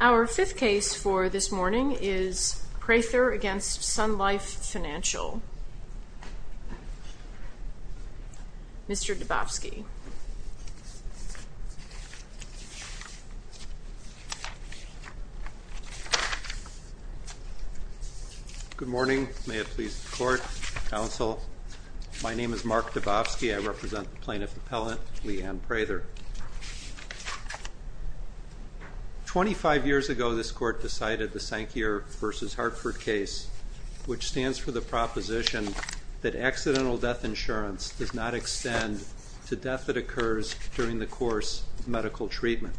Our fifth case for this morning is Prather v. Sun Life Financial. Mr. Dabofsky. Good morning. May it please the court, counsel. My name is Mark Dabofsky. I am a lawyer. Twenty-five years ago, this court decided the Sankier v. Hartford case, which stands for the proposition that accidental death insurance does not extend to death that occurs during the course of medical treatment.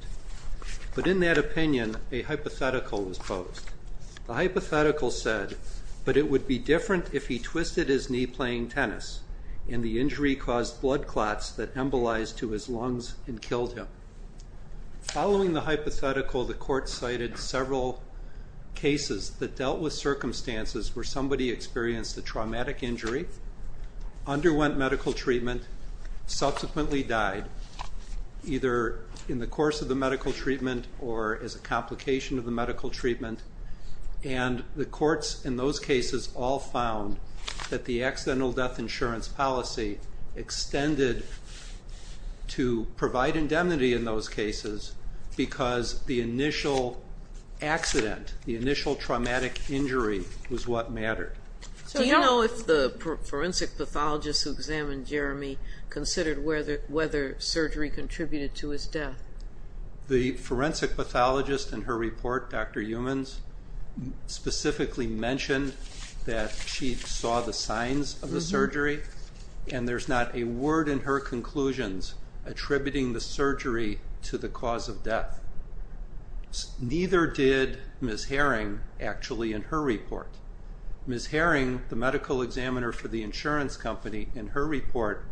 But in that opinion, a hypothetical was posed. The hypothetical said, but it would be different if he twisted his knee playing tennis and the injury caused blood clots that embolized to his lungs and killed him. Following the hypothetical, the court cited several cases that dealt with circumstances where somebody experienced a traumatic injury, underwent medical treatment, subsequently died, either in the course of the medical treatment or as a complication of the medical treatment. And the courts in those cases all found that the accidental death insurance policy extended to provide indemnity in those cases because the initial accident, the initial traumatic injury was what mattered. Do you know if the forensic pathologist who examined Jeremy considered whether surgery contributed to his death? The forensic pathologist in her report, Dr. Eumanns, specifically mentioned that she saw the signs of the surgery and there's not a word in her conclusions attributing the surgery to the cause of death. Neither did Ms. Herring actually in her report. Ms. Herring, the medical examiner for the insurance company, in her report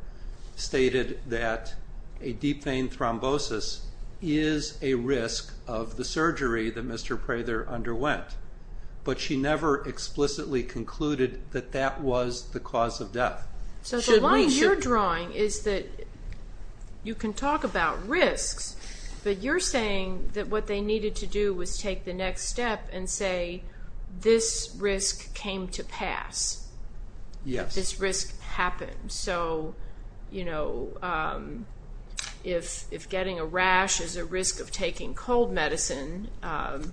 stated that a deep vein thrombosis is a risk of the surgery that Mr. Prather underwent, but she never explicitly concluded that that was the cause of death. So the line you're drawing is that you can talk about risks, but you're saying that what they needed to do was take the next step and say this risk came to pass, this risk happened. So if getting a rash is a risk of taking cold medicine, not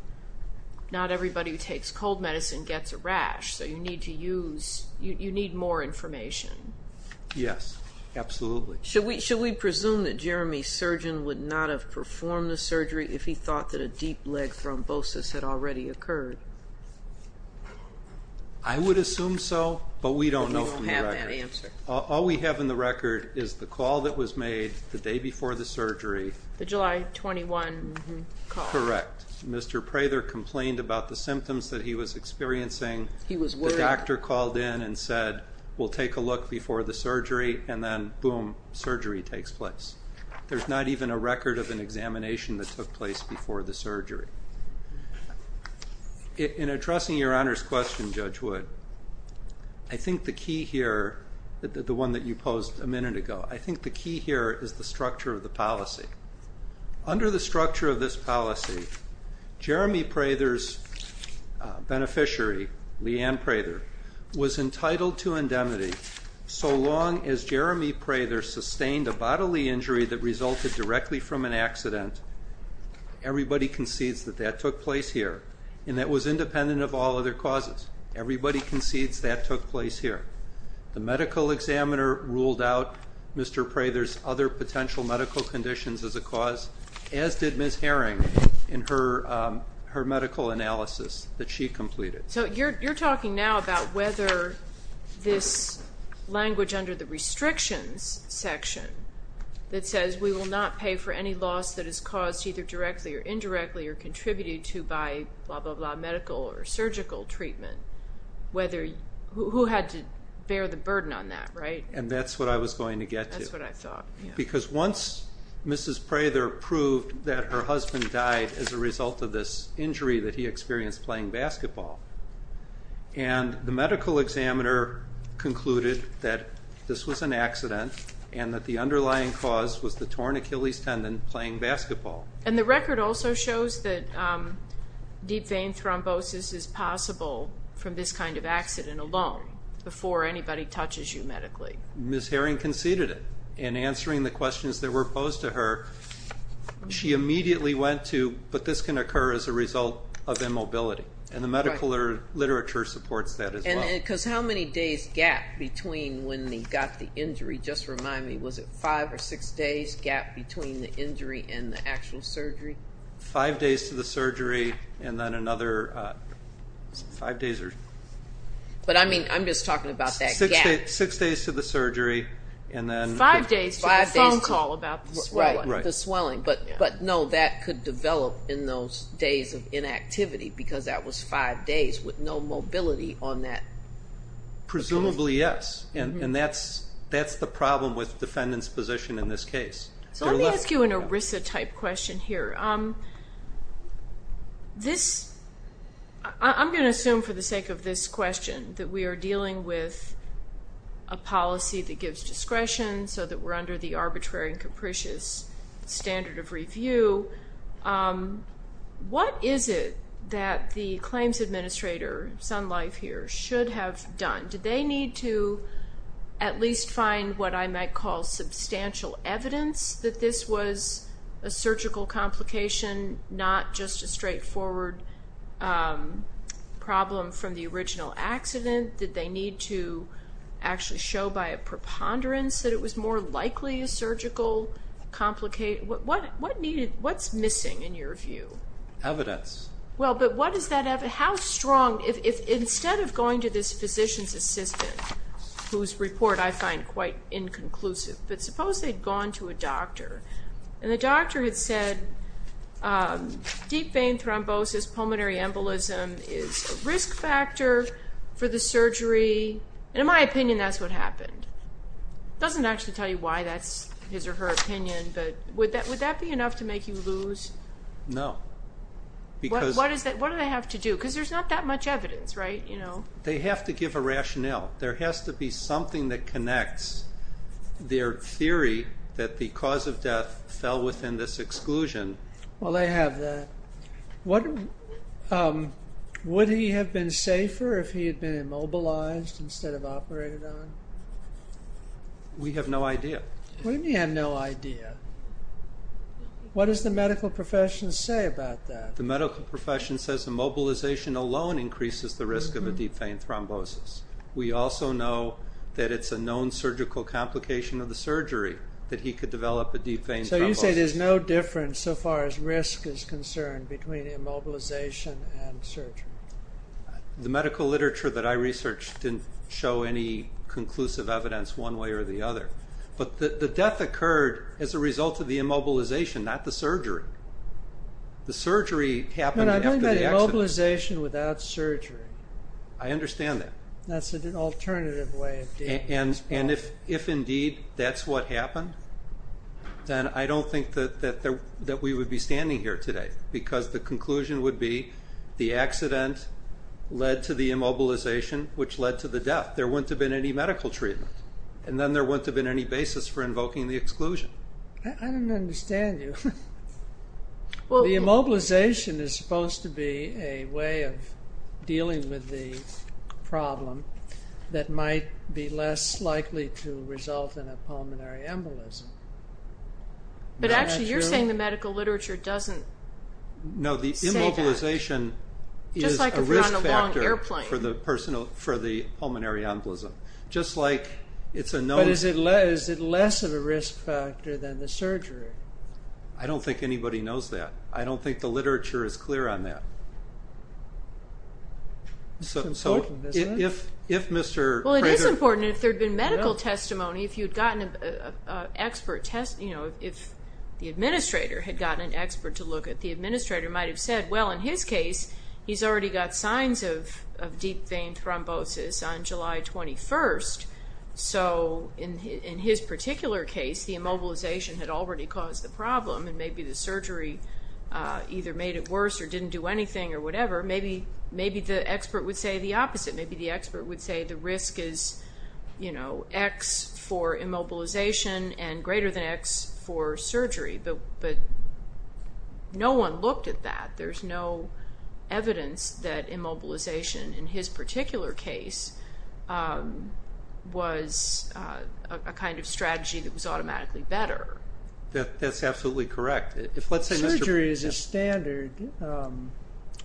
everybody who takes cold medicine gets a rash, so you need more information. Yes, absolutely. Should we presume that Jeremy's surgeon would not have performed the surgery if he thought that a deep leg thrombosis had already occurred? I would assume so, but we don't know from the record. All we have in the record is the call that was made the day before the surgery. The July 21 call. Correct. Mr. Prather complained about the symptoms that he was experiencing. The doctor called in and said, we'll take a look before the surgery, and then boom, surgery takes place. There's not even a record of an examination that took place before the surgery. In addressing Your Honor's question, Judge Wood, I think the key here, the one that you posed a minute ago, I think the key here is the structure of the policy. Under the structure of this policy, Jeremy Prather's beneficiary, Leanne Prather, was entitled to indemnity so long as Jeremy Prather sustained a bodily injury that resulted directly from an accident. Everybody concedes that that took place here, and that was independent of all other causes. Everybody concedes that took place here. The medical examiner ruled out Mr. Prather's other potential medical conditions as a cause, as did Ms. Herring in her medical analysis that she completed. So you're talking now about whether this language under the restrictions section that says we will not pay for any loss that is caused either directly or indirectly or contributed to by blah blah blah medical or surgical treatment, who had to bear the burden on that, right? And that's what I was going to get to. That's what I thought, yeah. Because once Mrs. Prather proved that her husband died as a result of this injury that he experienced playing basketball, and the medical examiner concluded that this was an accident and that the underlying cause was the torn Achilles tendon playing basketball. And the Ms. Herring conceded it in answering the questions that were posed to her. She immediately went to, but this can occur as a result of immobility, and the medical literature supports that as well. Because how many days gap between when they got the injury? Just remind me, was it five or six days gap between the injury and the actual surgery? Five days to the surgery and then another five days. But I mean, I'm just talking about that gap. Six days to the surgery and then five days to the phone call about the swelling. But no, that could develop in those days of inactivity because that was five days with no mobility on that. Presumably yes, and that's the problem with defendant's position in this case. So let me ask you an ERISA type question here. I'm going to assume for the sake of this question that we are dealing with a policy that gives discretion so that we're under the arbitrary and capricious standard of review. What is it that the claims administrator, Sun Life here, should have done? Did they need to at least find what I might call substantial evidence that this was a surgical complication, not just a straightforward problem from the original accident? Did they need to actually show by a preponderance that it was more likely a surgical complication? What's missing in your view? Evidence. Well, but what is that evidence? How strong? Instead of going to this physician's assistant, whose report I find quite inconclusive, but suppose they'd gone to a doctor and the doctor had said deep vein thrombosis, pulmonary embolism is a risk factor for the surgery. In my opinion, that's what happened. Doesn't actually tell me why that's his or her opinion, but would that be enough to make you lose? No. What do they have to do? Because there's not that much evidence, right? They have to give a rationale. There has to be something that connects their theory that the cause of death fell within this exclusion. Well, they have that. Would he have been safer if he had been immobilized instead of operated on? We have no idea. We have no idea. What does the medical profession say about that? The medical profession says immobilization alone increases the risk of a deep vein thrombosis. We also know that it's a known surgical complication of the surgery that he could develop a deep vein thrombosis. So you say there's no difference, so far as risk is concerned, between immobilization and surgery. The medical literature that I researched didn't show any conclusive evidence one way or the other. But the death occurred as a result of the immobilization, not the surgery. The surgery happened after the accident. I'm talking about immobilization without surgery. I understand that. That's an alternative way of dealing with this problem. And if indeed that's what happened, then I don't think that we would be standing here today, because the conclusion would be the accident led to the immobilization, which led to the death. There wouldn't have been any medical treatment. And then there wouldn't have been any basis for invoking the exclusion. I don't understand you. The immobilization is supposed to be a way of dealing with the problem that might be less likely to result in a pulmonary embolism. But actually you're saying the medical literature doesn't say that. No, the immobilization is a risk factor for the pulmonary embolism. But is it less of a risk factor than the surgery? I don't think anybody knows that. I don't think the literature is clear on that. It's important, isn't it? Well, it is important. If there had been medical testimony, if the administrator had gotten an expert to look at it, the administrator might have said, well, in his case, he's already got signs of deep vein thrombosis on July 21st. So in his particular case, the immobilization had already caused the problem. And maybe the surgery either made it worse or didn't do anything or whatever. Maybe the expert would say the opposite. Maybe the expert would say the risk is X for immobilization and greater than X for surgery. But no one looked at that. There's no evidence that immobilization in his particular case was a kind of strategy that was automatically better. That's absolutely correct. Surgery is a standard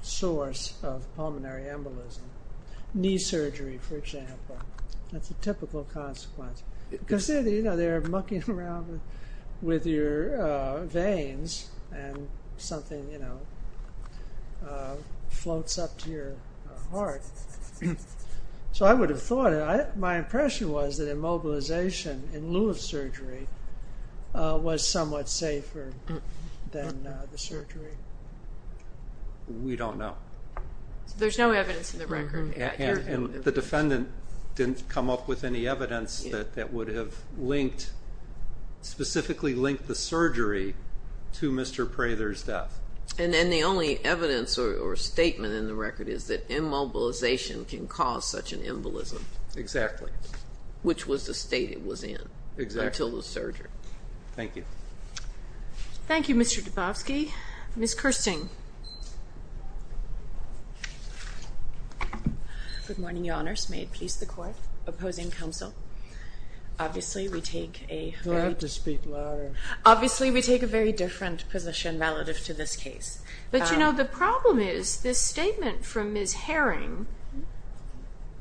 source of pulmonary embolism. Knee surgery, for example. That's a typical consequence. Because they're mucking around with your veins and something floats up to your heart. So I would have thought, my impression was that immobilization in lieu of surgery was somewhat safer than the surgery. We don't know. There's no evidence in the record. And the defendant didn't come up with any evidence that would have linked, specifically linked the surgery to Mr. Prather's death. And the only evidence or statement in the record is that immobilization can cause such an embolism. Exactly. Which was the state it was in. Exactly. Until the surgery. Thank you. Thank you, Mr. Dubofsky. Ms. Kirsting. Good morning, Your Honors. May it please the Court. Opposing counsel. Obviously, we take a very... Do I have to speak louder? Obviously, we take a very different position relative to this case. But, you know, the problem is this statement from Ms. Herring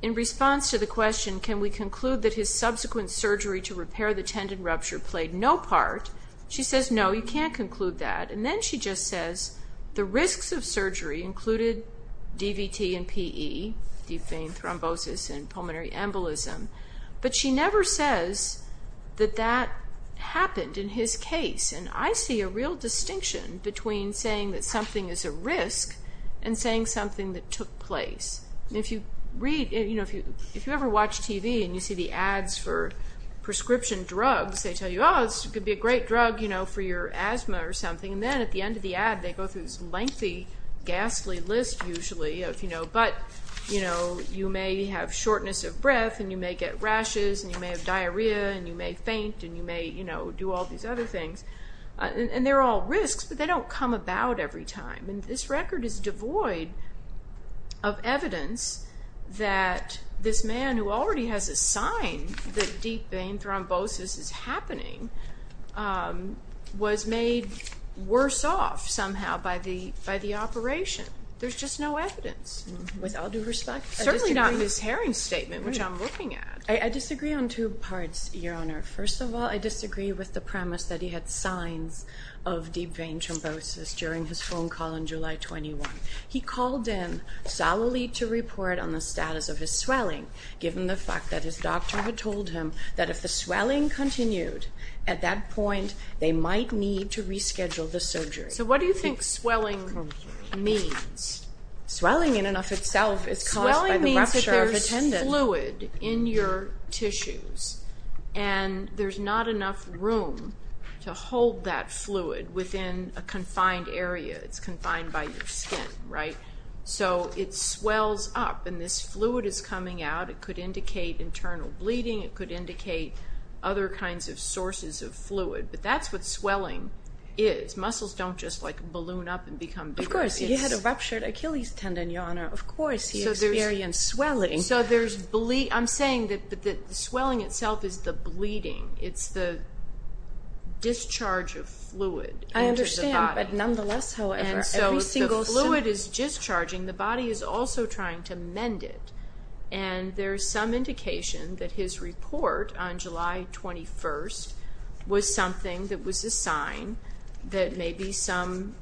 in response to the question, can we conclude that his subsequent surgery to repair the tendon rupture played no part? She says, no, you can't conclude that. And then she just says, the risks of surgery included DVT and PE, deep vein thrombosis and pulmonary embolism. But she never says that that happened in his case. And I see a real distinction between saying that something is a risk and saying something that took place. If you read, you know, if you ever watch TV and you see the ads for prescription drugs, they tell you, oh, this could be a great drug, you know, for your asthma or something. And then at the end of the ad, they go through this lengthy, ghastly list, usually, but, you know, you may have shortness of breath and you may get rashes and you may have diarrhea and you may faint and you may, you know, do all these other things. And they're all risks, but they don't come about every time. And this record is devoid of evidence that this man who already has a sign that deep vein thrombosis is happening was made worse off somehow by the operation. There's just no evidence, with all due respect. Certainly not in his hearing statement, which I'm looking at. I disagree on two parts, Your Honor. First of all, I disagree with the premise that he had signs of deep vein thrombosis during his phone call on July 21. He called in solidly to report on the status of his swelling, given the fact that his doctor had told him that if the swelling continued, at that point, they might need to reschedule the surgery. So what do you think swelling means? Swelling in and of itself is caused by the rupture of the tendon. Swelling means that there's fluid in your tissues and there's not enough room to hold that fluid within a confined area. It's confined by your skin, right? So it swells up and this fluid is coming out. It could indicate internal bleeding. It could indicate other kinds of sources of fluid. But that's what swelling is. It's muscles don't just like balloon up and become bigger. Of course. He had a ruptured Achilles tendon, Your Honor. Of course he experienced swelling. So there's bleeding. I'm saying that the swelling itself is the bleeding. It's the discharge of fluid into the body. I understand, but nonetheless, however, every single... And so the fluid is discharging. The body is also trying to mend it. And there's some indication that his report on July 21 was something that was a sign that maybe some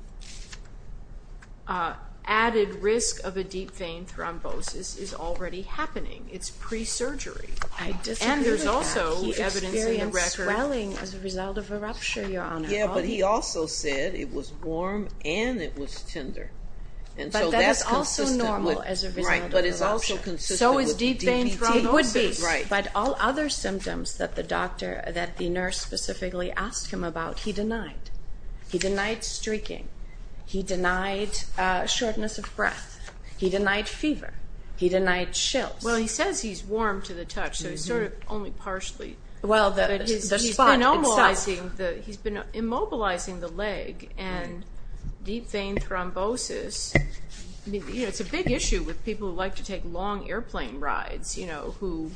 added risk of a deep vein thrombosis is already happening. It's pre-surgery. I disagree with that. He experienced swelling as a result of a rupture, Your Honor. Yeah, but he also said it was warm and it was tender. But that is also normal as a result of a rupture. So is deep vein thrombosis. It would be. But all other symptoms that the doctor, that the nurse specifically asked him about, he denied. He denied streaking. He denied shortness of breath. He denied fever. He denied chills. Well, he says he's warm to the touch, so he's sort of only partially. Well, the spot itself. He's been immobilizing the leg and deep vein thrombosis... You know, it's a big issue with people who like to take long airplane rides, who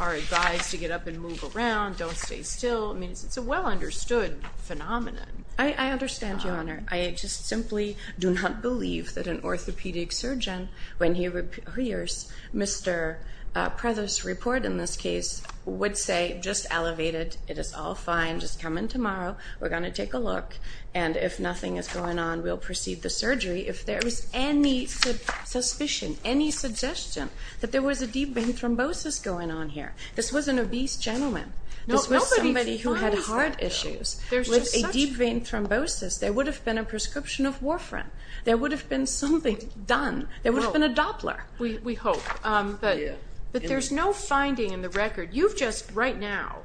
are advised to get up and move around, don't stay still. It's a well-understood phenomenon. I understand, Your Honor. I just simply do not believe that an orthopedic surgeon, when he hears Mr. Prevost's report in this case, would say, just elevate it. It is all fine. Just come in tomorrow. We're going to take a look. And if nothing is going on, we'll proceed the surgery. If there is any suspicion, any suggestion that there was a deep vein thrombosis going on here, this was an obese gentleman. This was somebody who had heart issues. With a deep vein thrombosis, there would have been a prescription of Warfarin. There would have been something done. There would have been a Doppler. We hope. But there's no finding in the record. You've just, right now,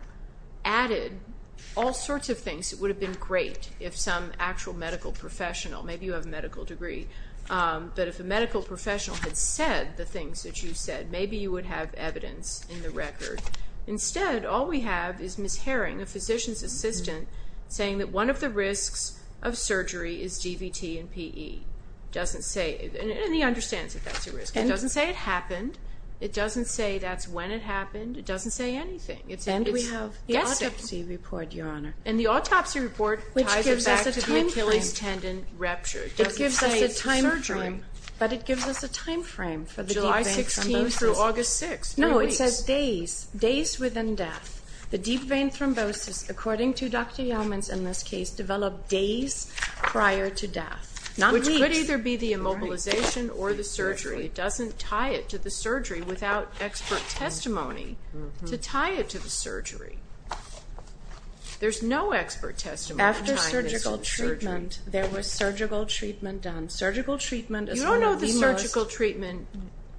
added all sorts of things that would have been great if some actual medical professional, maybe you have a medical degree, but if a medical professional had said the things that you said, maybe you would have evidence in the record. Instead, all we have is Ms. Herring, a physician's assistant, saying that one of the risks of surgery is DVT and PE. Doesn't say, and he understands that that's a risk. It doesn't say it happened. It doesn't say that's when it happened. It doesn't say anything. And we have the autopsy report, Your Honor. And the autopsy report ties it back to the Achilles tendon rupture. It doesn't say it's a surgery. But it gives us a time frame for the deep vein thrombosis. July 16 through August 6. No, it says days, days within death. The deep vein thrombosis, according to Dr. Yeomans in this case, developed days prior to death. Which could either be the immobilization or the surgery. It doesn't tie it to the surgery without expert testimony to tie it to the surgery. There's no expert testimony to tie this to the surgery. After surgical treatment, there was surgical treatment done. You don't know if the surgical treatment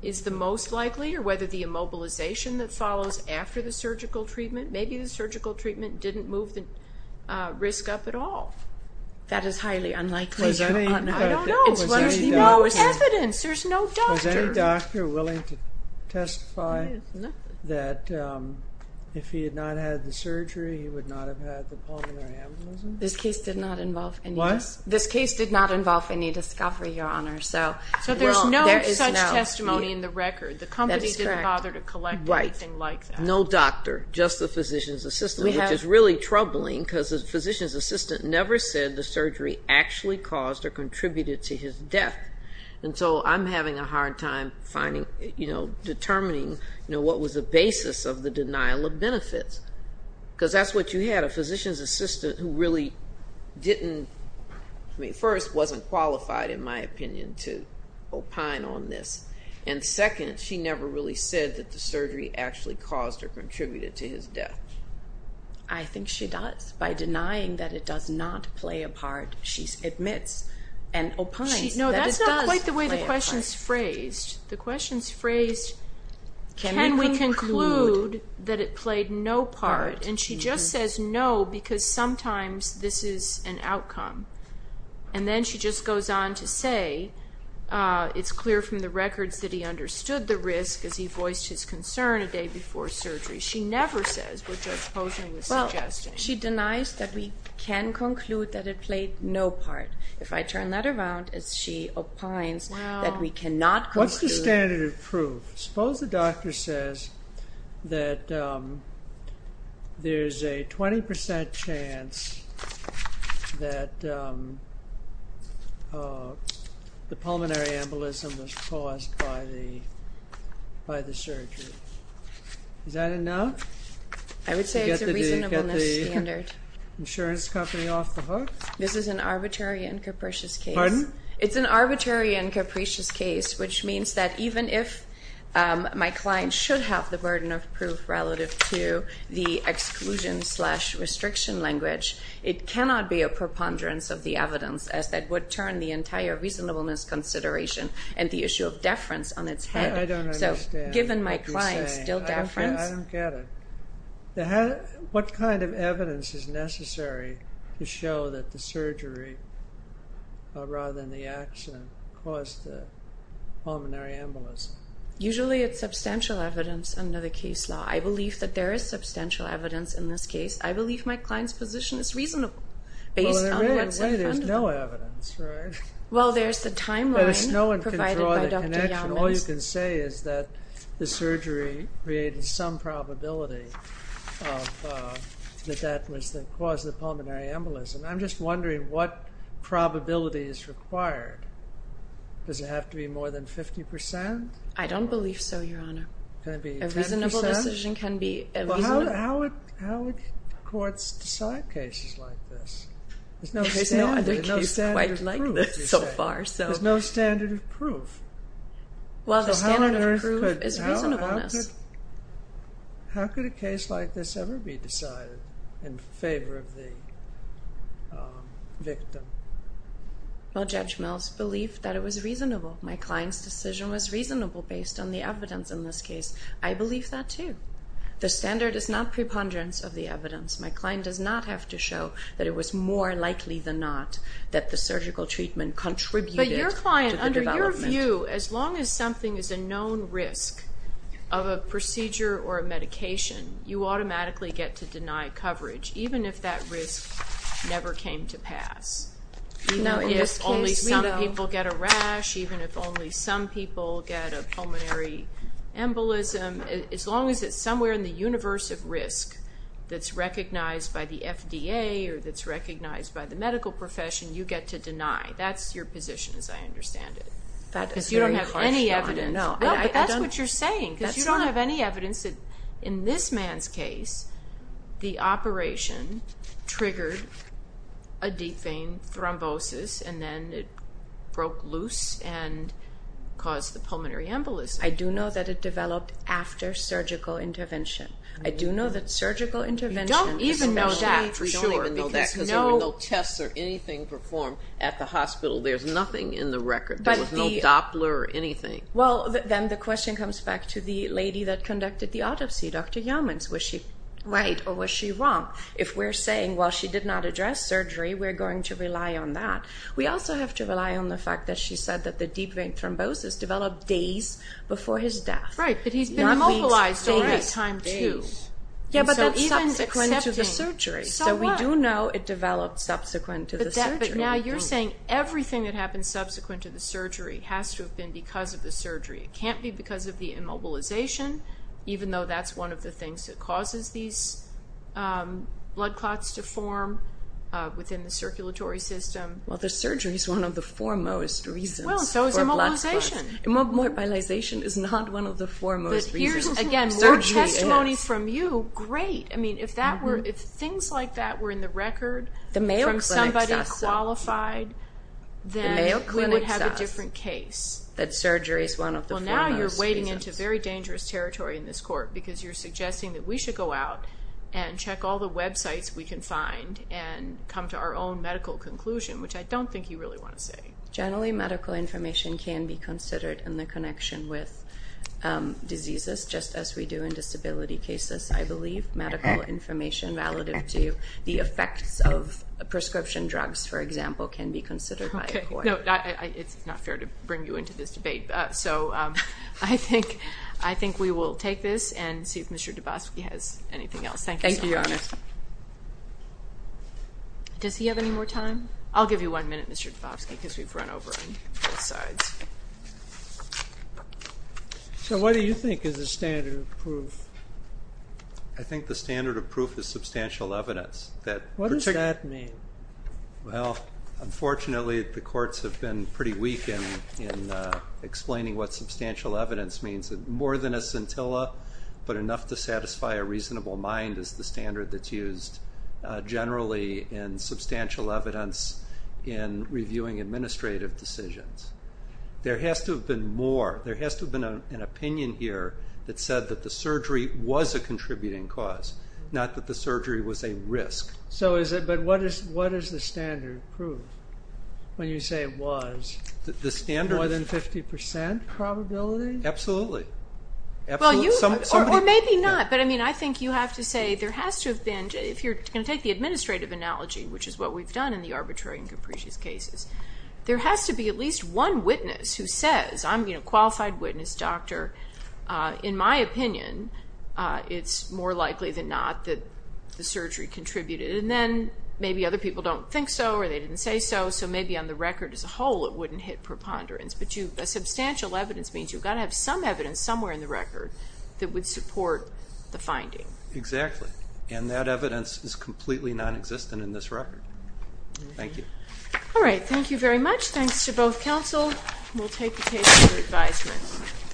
is the most likely or whether the immobilization that follows after the surgical treatment, maybe the surgical treatment didn't move the risk up at all. That is highly unlikely. I don't know. There's no evidence. There's no doctor. Was any doctor willing to testify that if he had not had the surgery, he would not have had the pulmonary embolism? This case did not involve any discovery, Your Honor. So there's no such testimony in the record. The company didn't bother to collect anything like that. No doctor, just the physician's assistant. Which is really troubling because the physician's assistant never said the surgery actually caused or contributed to his death. And so I'm having a hard time determining what was the basis of the denial of benefits. Because that's what you had, a physician's assistant who really first wasn't qualified, in my opinion, to opine on this. And second, she never really said that the surgery actually caused or contributed to his death. I think she does. By denying that it does not play a part, she admits and opines that it does play a part. No, that's not quite the way the question's phrased. The question's phrased, can we conclude that it played no part? And she just says no because sometimes this is an outcome. And then she just goes on to say it's clear from the records that he understood the risk as he voiced his concern a day before surgery. She never says what Judge Posner was suggesting. She denies that we can conclude that it played no part. If I turn that around, she opines that we cannot conclude. What's the standard of proof? Suppose the doctor says that there's a 20% chance that the pulmonary embolism was caused by the surgery. Is that a no? I would say it's a reasonableness standard. Insurance company off the hook? This is an arbitrary and capricious case. Pardon? It's an arbitrary and capricious case, which means that even if my client should have the burden of proof relative to the exclusion slash restriction language, it cannot be a preponderance of the evidence as that would turn the entire reasonableness consideration and the issue of my client's still deference. I don't get it. What kind of evidence is necessary to show that the surgery rather than the accident caused the pulmonary embolism? Usually it's substantial evidence under the case law. I believe that there is substantial evidence in this case. I believe my client's position is reasonable based on what's in front of them. Well, there's the timeline provided by Dr. Yamans. All you can say is that the surgery created some probability that that was the cause of the pulmonary embolism. I'm just wondering what probability is required. Does it have to be more than 50%? I don't believe so, Your Honor. A reasonable decision can be... How would courts decide cases like this? There's no standard. There's no standard of proof. Well, the standard of proof is reasonableness. How could a case like this ever be decided in favor of the victim? Well, Judge Mills believed that it was reasonable. My client's decision was reasonable based on the evidence in this case. I believe that, too. The standard is not preponderance of the evidence. My client does not have to show that it was more likely than not that the surgical treatment contributed to the development. As long as something is a known risk of a procedure or a medication, you automatically get to deny coverage, even if that risk never came to pass. Even if only some people get a rash, even if only some people get a pulmonary embolism, as long as it's somewhere in the universe of risk that's recognized by the FDA or that's recognized by the medical profession, you get to deny. That's your position as I understand it. You don't have any evidence. That's what you're saying. You don't have any evidence that in this man's case the operation triggered a deep vein thrombosis and then it broke loose and caused the pulmonary embolism. I do know that it developed after surgical intervention. I do know that surgical intervention You don't even know that. We don't even know that because there were no tests or anything performed at the hospital. There's nothing in the record. There was no Doppler or anything. Then the question comes back to the lady that conducted the autopsy, Dr. Yamins. Was she right or was she wrong? If we're saying, well, she did not address surgery, we're going to rely on that. We also have to rely on the fact that she said that the deep vein thrombosis developed days before his death. Right, but he's been mobilized already. Not weeks, maybe time two. Yeah, but that's subsequent to the surgery. So we do know it developed subsequent to the surgery. Everything that happens subsequent to the surgery has to have been because of the surgery. It can't be because of the immobilization even though that's one of the things that causes these blood clots to form within the circulatory system. Well, the surgery is one of the foremost reasons for blood clots. Immobilization is not one of the foremost reasons for surgery. Again, more testimony from you, great. I mean, if things like that were in the record from somebody qualified, then we would have a different case. Well, now you're wading into very dangerous territory in this court because you're suggesting that we should go out and check all the websites we can find and come to our own medical conclusion, which I don't think you really want to say. Generally, medical information can be considered in the connection with what we do in disability cases. I believe medical information relative to the effects of prescription drugs, for example, can be considered by a court. It's not fair to bring you into this debate. I think we will take this and see if Mr. Dubofsky has anything else. Thank you. Does he have any more time? I'll give you one minute, Mr. Dubofsky, because we've run over on both sides. What do you think is the standard of proof? I think the standard of proof is substantial evidence. What does that mean? Unfortunately, the courts have been pretty weak in explaining what substantial evidence means. More than a scintilla, but enough to satisfy a reasonable mind is the standard that's used generally in substantial evidence in reviewing administrative decisions. There has to have been more. There has to have been an opinion here that said that the surgery was a contributing cause, not that the surgery was a risk. What does the standard prove when you say it was more than 50% probability? Absolutely. Or maybe not, but I think you have to say there has to have been, if you're going to take the administrative analogy, which is what we've done in the arbitrary and capricious cases, there has to be at least one witness who says, qualified witness, doctor, in my opinion, it's more likely than not that the surgery contributed. Maybe other people don't think so, or they didn't say so, so maybe on the record as a whole it wouldn't hit preponderance. Substantial evidence means you've got to have some evidence somewhere in the record that would support the finding. Exactly. And that evidence is completely non-existent in this record. Thank you. Alright, thank you very much. Thanks to both counsel. We'll take the case for advisement.